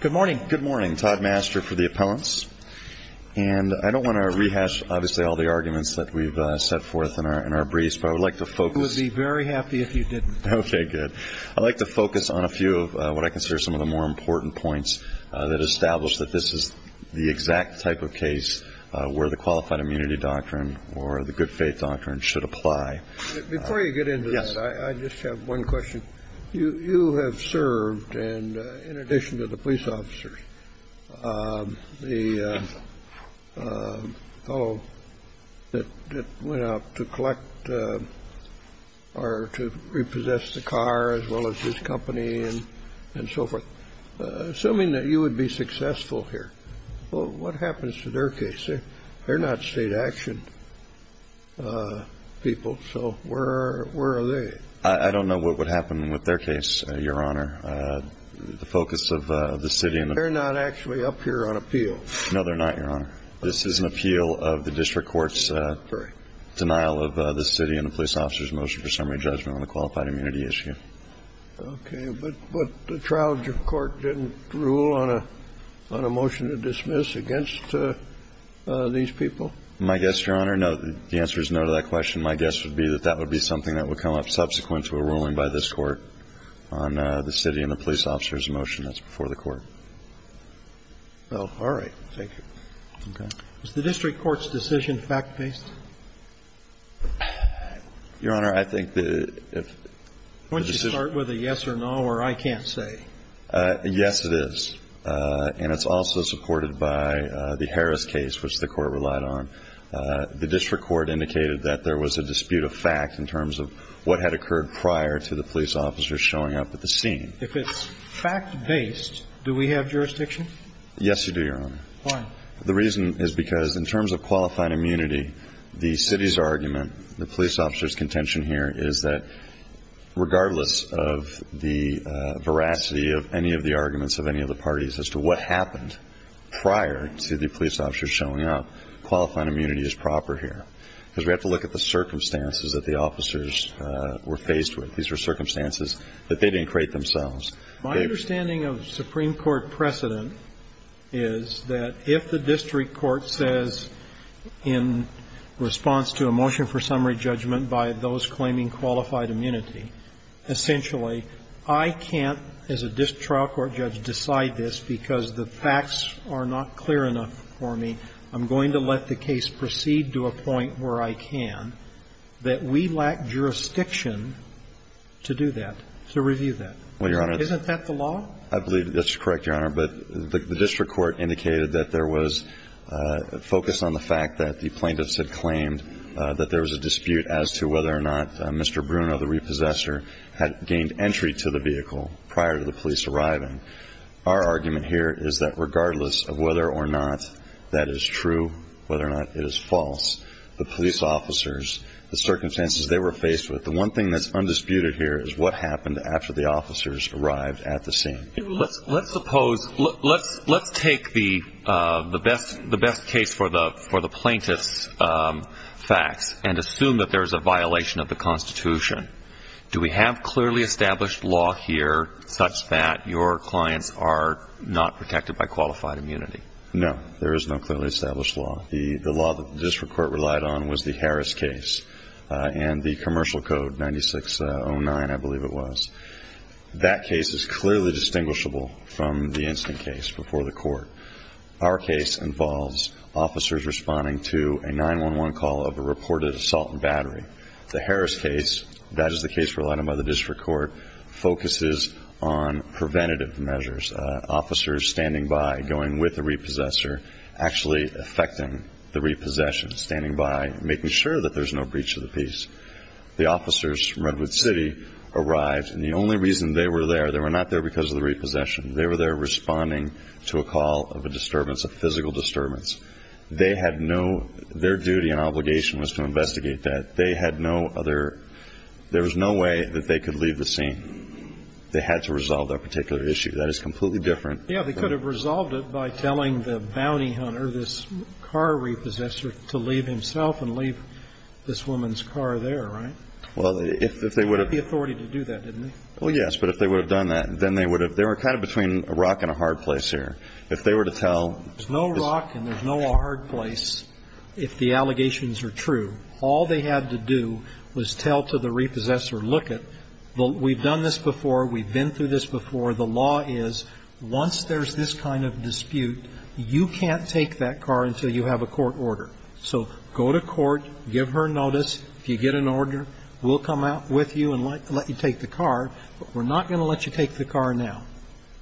Good morning, Todd Master for the Appellants. I don't want to rehash all the arguments that we've set forth in our briefs, but I would like to focus on a few of what I consider some of the more important points that establish that this is the exact type of case where the Qualified Immunity Doctrine or the Good Faith Doctrine should apply. Before you get into this, I just have one question. You have served, in addition to the police officers, the fellow that went out to collect or to repossess the car as well as his company and so forth. Assuming that you would be successful here, what happens to their case? They're not state-actioned people, so where are they? I don't know what would happen with their case, Your Honor. The focus of the city and the They're not actually up here on appeal. No, they're not, Your Honor. This is an appeal of the district court's denial of the city and the police officers' motion for summary judgment on the qualified immunity issue. Okay. But the trial court didn't rule on a motion to dismiss against these people? My guess, Your Honor, no. The answer is no to that question. My guess would be that that would be something that would come up subsequent to a ruling by this Court on the city and the police officers' motion. That's before the Court. Well, all right. Thank you. Okay. Is the district court's decision fact-based? Your Honor, I think that if the decision Wouldn't you start with a yes or no or I can't say? Yes, it is. And it's also supported by the Harris case, which the Court relied on. The district court indicated that there was a dispute of fact in terms of what had occurred prior to the police officers showing up at the scene. If it's fact-based, do we have jurisdiction? Yes, you do, Your Honor. Why? The reason is because in terms of qualified immunity, the city's argument, the police officers' contention here is that regardless of the veracity of any of the arguments of any of the parties as to what happened prior to the police officers showing up, qualified immunity is proper here. Because we have to look at the circumstances that the officers were faced with. These were circumstances that they didn't create themselves. My understanding of Supreme Court precedent is that if the district court says in response to a motion for summary judgment by those claiming qualified immunity, essentially, I can't, as a district trial court judge, decide this because the facts are not clear enough for me. I'm going to let the case proceed to a point where I can, that we lack jurisdiction to do that, to review that. Well, Your Honor. Isn't that the law? I believe that's correct, Your Honor. But the district court indicated that there was focus on the fact that the plaintiffs had claimed that there was a dispute as to whether or not Mr. Bruno, the repossessor, had gained entry to the vehicle prior to the police arriving. Our argument here is that regardless of whether or not that is true, whether or not it is false, the police officers, the circumstances they were faced with, the one thing that's undisputed here is what happened after the officers arrived at the scene. Let's suppose, let's take the best case for the plaintiffs' facts and assume that there's a violation of the Constitution. Do we have clearly established law here such that your clients are not protected by qualified immunity? No. There is no clearly established law. The law that the district court relied on was the Harris case and the Commercial Code 9609, I believe it was. That case is clearly distinguishable from the instant case before the court. Our case involves officers responding to a 911 call of a reported assault and battery. The Harris case, that is the case relied on by the district court, focuses on preventative measures. Officers standing by, going with the repossessor, actually affecting the repossession, standing by, making sure that there's no breach of the peace. The officers from Redwood City arrived, and the only reason they were there, they were not there because of the repossession. They were there responding to a call of a disturbance, a physical disturbance. They had no – their duty and obligation was to investigate that. They had no other – there was no way that they could leave the scene. They had to resolve their particular issue. That is completely different. Yeah, they could have resolved it by telling the bounty hunter, this car repossessor, to leave himself and leave this woman's car there, right? Well, if they would have – They had the authority to do that, didn't they? Well, yes, but if they would have done that, then they would have – they were kind of between a rock and a hard place here. If they were to tell – There's no rock and there's no hard place if the allegations are true. All they had to do was tell to the repossessor, look it, we've done this before, we've been through this before, the law is once there's this kind of dispute, you can't take that car until you have a court order. So go to court, give her notice. If you get an order, we'll come out with you and let you take the car, but we're not going to let you take the car now.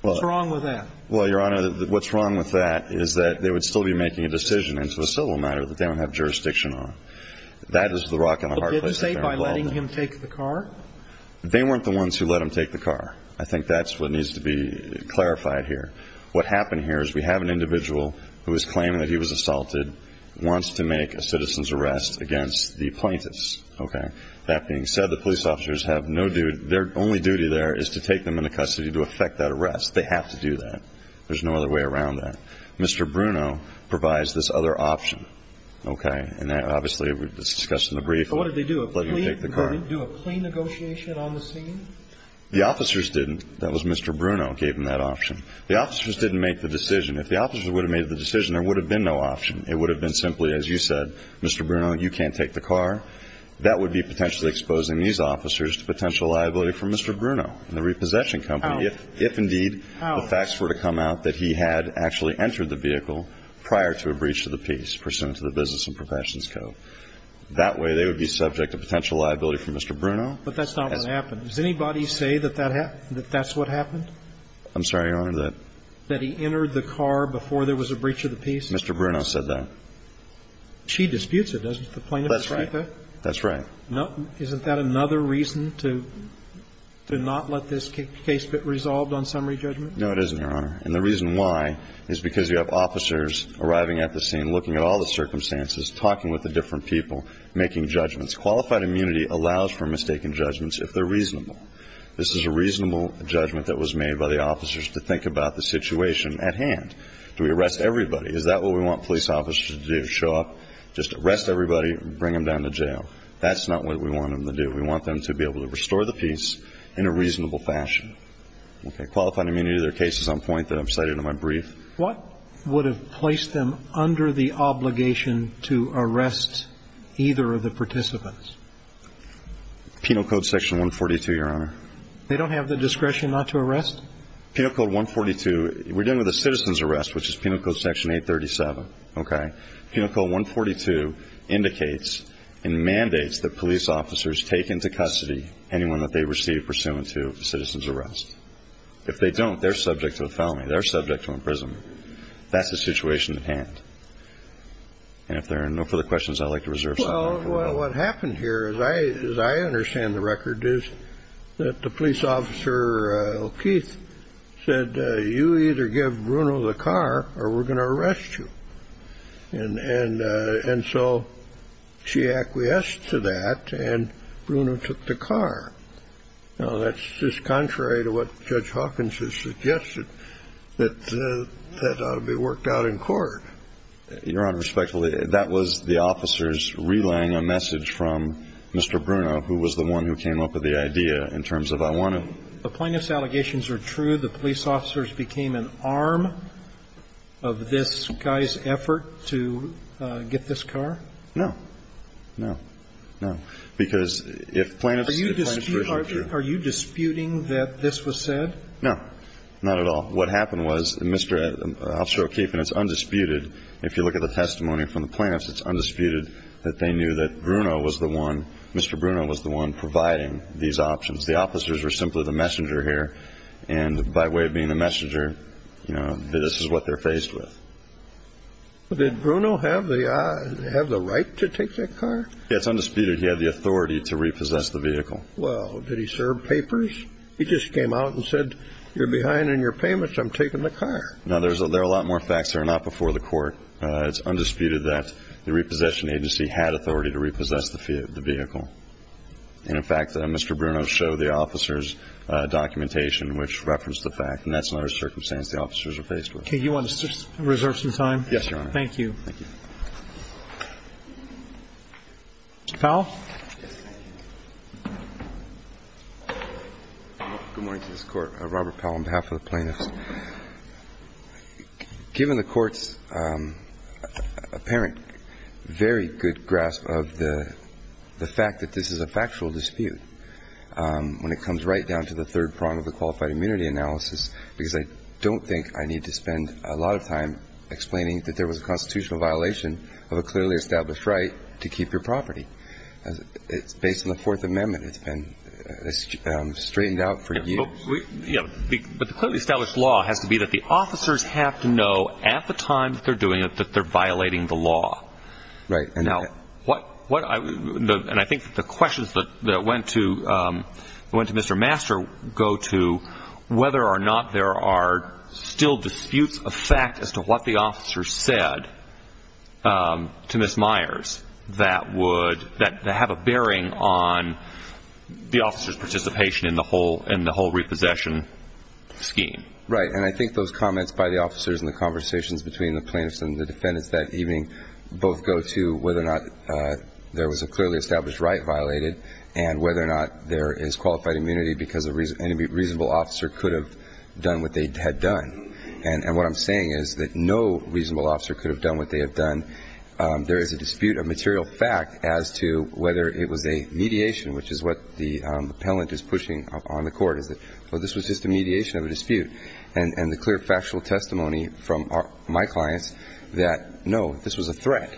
What's wrong with that? Well, Your Honor, what's wrong with that is that they would still be making a decision into a civil matter that they don't have jurisdiction on. That is the rock and the hard place that they're involved in. But didn't they say by letting him take the car? They weren't the ones who let him take the car. I think that's what needs to be clarified here. What happened here is we have an individual who is claiming that he was assaulted, wants to make a citizen's arrest against the plaintiffs, okay? That being said, the police officers have no duty – their only duty there is to take them into custody to effect that arrest. They have to do that. There's no other way around that. Mr. Bruno provides this other option, okay? And that, obviously, we've discussed in the brief, let him take the car. Would he do a clean negotiation on the scene? The officers didn't. That was Mr. Bruno who gave him that option. The officers didn't make the decision. If the officers would have made the decision, there would have been no option. It would have been simply, as you said, Mr. Bruno, you can't take the car. That would be potentially exposing these officers to potential liability from Mr. Bruno and the repossession company if indeed the facts were to come out that he had actually entered the vehicle prior to a breach of the peace pursuant to the business and professions code. That way they would be subject to potential liability from Mr. Bruno. But that's not what happened. Does anybody say that that's what happened? I'm sorry, Your Honor. That he entered the car before there was a breach of the peace? Mr. Bruno said that. She disputes it, doesn't the plaintiff dispute that? That's right. That's right. Isn't that another reason to not let this case get resolved on summary judgment? No, it isn't, Your Honor. And the reason why is because you have officers arriving at the scene looking at all the circumstances, talking with the different people, making judgments. Qualified immunity allows for mistaken judgments if they're reasonable. This is a reasonable judgment that was made by the officers to think about the situation at hand. Do we arrest everybody? Is that what we want police officers to do, show up, just arrest everybody, bring them down to jail? That's not what we want them to do. We want them to be able to restore the peace in a reasonable fashion. Okay. Qualified immunity. There are cases on point that I've cited in my brief. What would have placed them under the obligation to arrest either of the participants? Penal Code Section 142, Your Honor. They don't have the discretion not to arrest? Penal Code 142, we're dealing with a citizen's arrest, which is Penal Code Section 837. Okay. Penal Code 142 indicates and mandates that police officers take into custody anyone that they receive pursuant to a citizen's arrest. If they don't, they're subject to a felony. They're subject to imprisonment. That's the situation at hand. And if there are no further questions, I'd like to reserve some time for that. Well, what happened here, as I understand the record, is that the police officer, Keith, said, you either give Bruno the car or we're going to arrest you. And so she acquiesced to that, and Bruno took the car. Well, that's just contrary to what Judge Hawkins has suggested, that that ought to be worked out in court. Your Honor, respectfully, that was the officers relaying a message from Mr. Bruno, who was the one who came up with the idea in terms of I want to ---- The plaintiff's allegations are true. The police officers became an arm of this guy's effort to get this car? No. No. No. Because if plaintiffs ---- Are you disputing that this was said? No. Not at all. What happened was Mr. Officer O'Keefe, and it's undisputed, if you look at the testimony from the plaintiffs, it's undisputed that they knew that Bruno was the one, Mr. Bruno was the one providing these options. The officers were simply the messenger here. And by way of being the messenger, you know, this is what they're faced with. Did Bruno have the right to take that car? Yes. It's undisputed he had the authority to repossess the vehicle. Well, did he serve papers? He just came out and said, you're behind on your payments, I'm taking the car. Now, there are a lot more facts that are not before the court. It's undisputed that the repossession agency had authority to repossess the vehicle. And, in fact, Mr. Bruno showed the officers documentation which referenced the fact, and that's another circumstance the officers are faced with. Okay. You want to reserve some time? Yes, Your Honor. Thank you. Thank you. Mr. Powell? Good morning to this Court. Robert Powell on behalf of the plaintiffs. Given the Court's apparent very good grasp of the fact that this is a factual dispute when it comes right down to the third prong of the qualified immunity analysis, because I don't think I need to spend a lot of time explaining that there was a constitutional violation of a clearly established right to keep your property. It's based on the Fourth Amendment. It's been straightened out for years. But the clearly established law has to be that the officers have to know at the time that they're doing it that they're violating the law. Right. And I think the questions that went to Mr. Master go to whether or not there are still disputes of fact as to what the officers said to Ms. Myers that have a bearing on the officers' participation in the whole repossession scheme. Right. And I think those comments by the officers and the conversations between the plaintiffs and the defendants that evening both go to whether or not there was a clearly established right violated and whether or not there is qualified immunity because a reasonable officer could have done what they had done. And what I'm saying is that no reasonable officer could have done what they have done. There is a dispute of material fact as to whether it was a mediation, which is what the appellant is pushing on the Court, is that, well, this was just a mediation of a dispute. And the clear factual testimony from my clients that, no, this was a threat.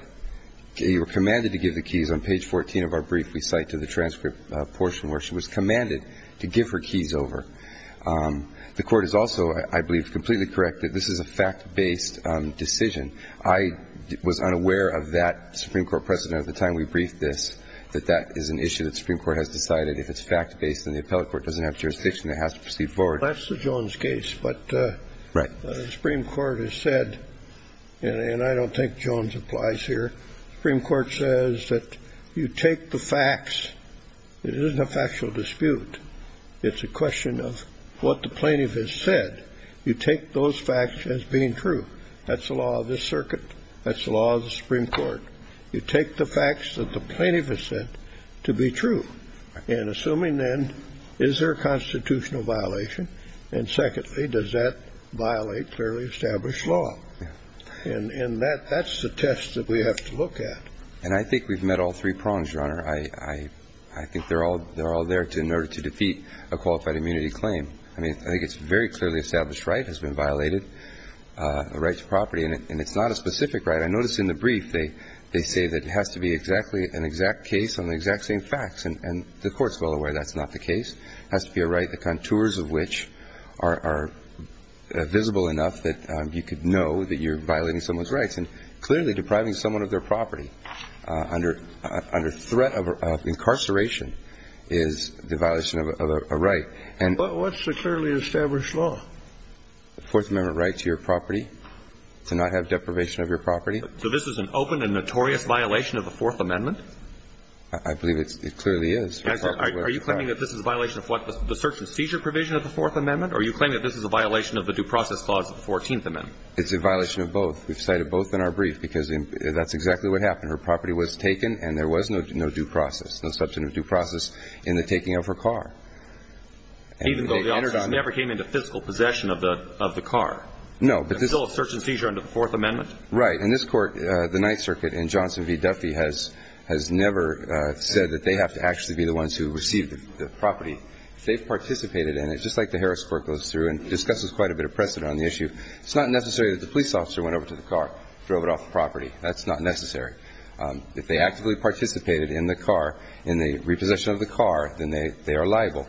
You were commanded to give the keys. On page 14 of our brief, we cite to the transcript portion where she was commanded to give her keys over. The Court is also, I believe, completely correct that this is a fact-based decision. I was unaware of that, Supreme Court President, at the time we briefed this, that that is an issue that the Supreme Court has decided if it's fact-based and the appellate court doesn't have jurisdiction, it has to proceed forward. That's the Jones case. But the Supreme Court has said, and I don't think Jones applies here, the Supreme Court says that you take the facts. It isn't a factual dispute. It's a question of what the plaintiff has said. You take those facts as being true. That's the law of this circuit. That's the law of the Supreme Court. You take the facts that the plaintiff has said to be true. And assuming then, is there a constitutional violation? And secondly, does that violate clearly established law? And that's the test that we have to look at. And I think we've met all three prongs, Your Honor. I think they're all there in order to defeat a qualified immunity claim. I mean, I think it's a very clearly established right has been violated, a right to property, and it's not a specific right. I noticed in the brief they say that it has to be exactly an exact case on the exact same facts. And the Court's well aware that's not the case. It has to be a right, the contours of which are visible enough that you could know that you're violating someone's rights and clearly depriving someone of their property under threat of incarceration is the violation of a right. But what's the clearly established law? Fourth Amendment right to your property, to not have deprivation of your property. So this is an open and notorious violation of the Fourth Amendment? I believe it clearly is. Are you claiming that this is a violation of what? The search and seizure provision of the Fourth Amendment? Or are you claiming that this is a violation of the Due Process Clause of the Fourteenth Amendment? It's a violation of both. We've cited both in our brief because that's exactly what happened. Her property was taken and there was no due process, no substantive due process in the taking of her car. Even though the officers never came into physical possession of the car? No. There's still a search and seizure under the Fourth Amendment? Right. In this Court, the Ninth Circuit and Johnson v. Duffy has never said that they have to actually be the ones who receive the property. They've participated in it, just like the Harris Court goes through and discusses quite a bit of precedent on the issue. It's not necessary that the police officer went over to the car, drove it off the property. That's not necessary. If they actively participated in the car, in the repossession of the car, then they are liable.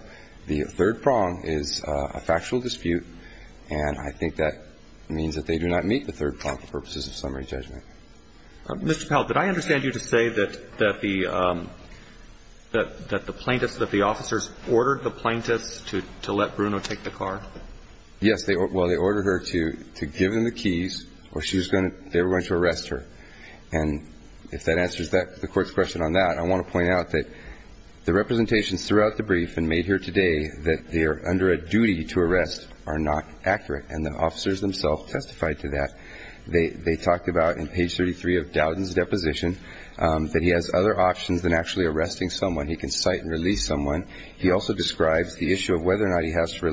The third prong is a factual dispute, and I think that means that they do not meet the third prong for purposes of summary judgment. Mr. Powell, did I understand you to say that the plaintiffs, that the officers ordered the plaintiffs to let Bruno take the car? Yes. Well, they ordered her to give them the keys or they were going to arrest her. And if that answers the Court's question on that, I want to point out that the representations throughout the brief and made here today that they are under a duty to arrest are not accurate, and the officers themselves testified to that. They talked about, in page 33 of Dowden's deposition, that he has other options than actually arresting someone. He can cite and release someone. He also describes the issue of whether or not he has to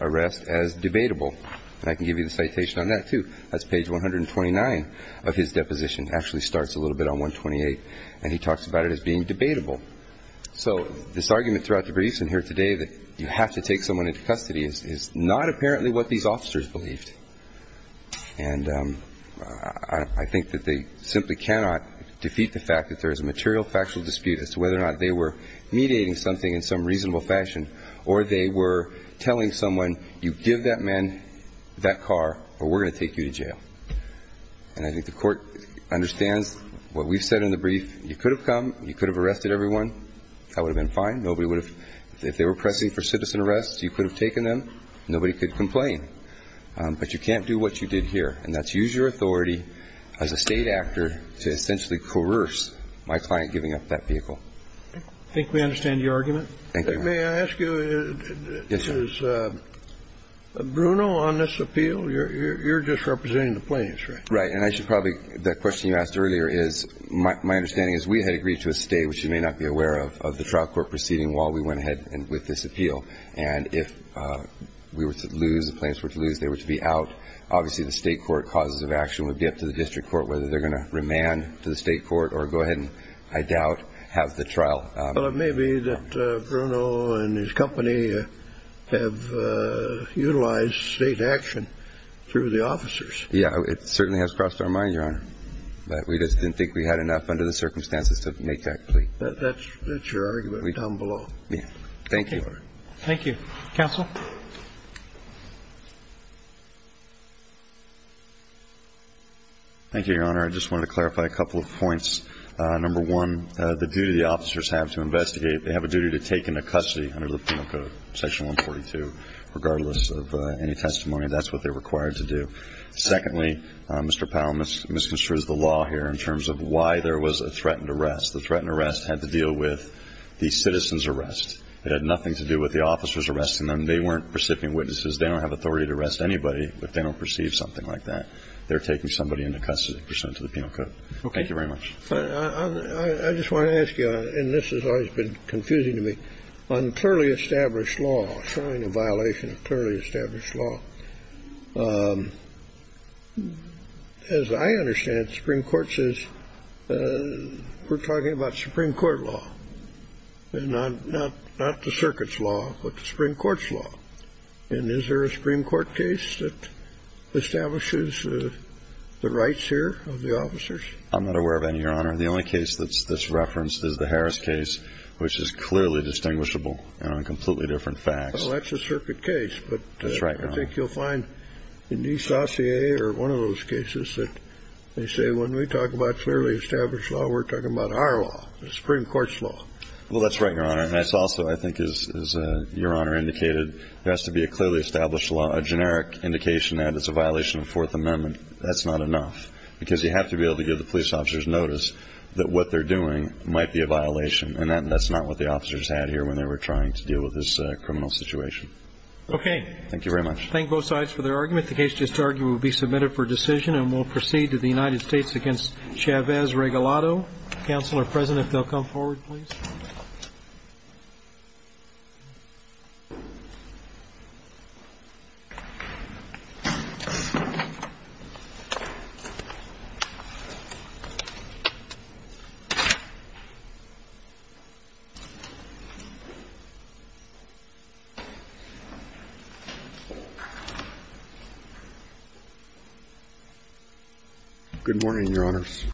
arrest as debatable. And I can give you the citation on that, too. That's page 129 of his deposition. It actually starts a little bit on 128, and he talks about it as being debatable. So this argument throughout the briefs in here today that you have to take someone into custody is not apparently what these officers believed. And I think that they simply cannot defeat the fact that there is a material, factual dispute as to whether or not they were mediating something in some reasonable fashion or they were telling someone, you give that man that car or we're going to take you to jail. And I think the Court understands what we've said in the brief. You could have come. You could have arrested everyone. That would have been fine. Nobody would have ñ if they were pressing for citizen arrest, you could have taken them. Nobody could complain. But you can't do what you did here, and that's use your authority as a State actor to essentially coerce my client giving up that vehicle. I think we understand your argument. Thank you, Your Honor. May I ask you, is Bruno on this appeal? You're just representing the plaintiffs, right? Right. And I should probably ñ the question you asked earlier is, my understanding is we had agreed to a stay, which you may not be aware of, of the trial court proceeding while we went ahead with this appeal. And if we were to lose, the plaintiffs were to lose, they were to be out, obviously the State court causes of action would be up to the district court whether they're going to remand to the State court or go ahead and, I doubt, have the trial. Well, it may be that Bruno and his company have utilized State action through the officers. Yeah. It certainly has crossed our mind, Your Honor. But we just didn't think we had enough under the circumstances to make that plea. That's your argument down below. Yeah. Thank you. Thank you. Counsel? Thank you, Your Honor. I just wanted to clarify a couple of points. Number one, the duty the officers have to investigate. They have a duty to take into custody under the penal code, section 142, regardless of any testimony. That's what they're required to do. Secondly, Mr. Powell misconstrues the law here in terms of why there was a threatened arrest. The threatened arrest had to deal with the citizen's arrest. It had nothing to do with the officers arresting them. They weren't recipient witnesses. They don't have authority to arrest anybody if they don't perceive something like that. They're taking somebody into custody pursuant to the penal code. Okay. Thank you very much. I just want to ask you, and this has always been confusing to me, on clearly established law, showing a violation of clearly established law, as I understand it, the Supreme Court says we're talking about Supreme Court law, not the circuit's law, but the Supreme Court's law. And is there a Supreme Court case that establishes the rights here of the officers? I'm not aware of any, Your Honor. The only case that's referenced is the Harris case, which is clearly distinguishable and on completely different facts. Well, that's a circuit case. That's right, Your Honor. But I think you'll find in these dossiers or one of those cases that they say when we talk about clearly established law, we're talking about our law, the Supreme Court's law. Well, that's right, Your Honor. And it's also, I think, as Your Honor indicated, there has to be a clearly established law, a generic indication that it's a violation of Fourth Amendment. That's not enough, because you have to be able to give the police officers notice that what they're doing might be a violation, and that's not what the officers had here when they were trying to deal with this criminal situation. Okay. Thank you very much. Thank both sides for their argument. The case just argued will be submitted for decision, and we'll proceed to the United States against Chavez-Regalado. Counselor, present if they'll come forward, please. Good morning, Your Honors.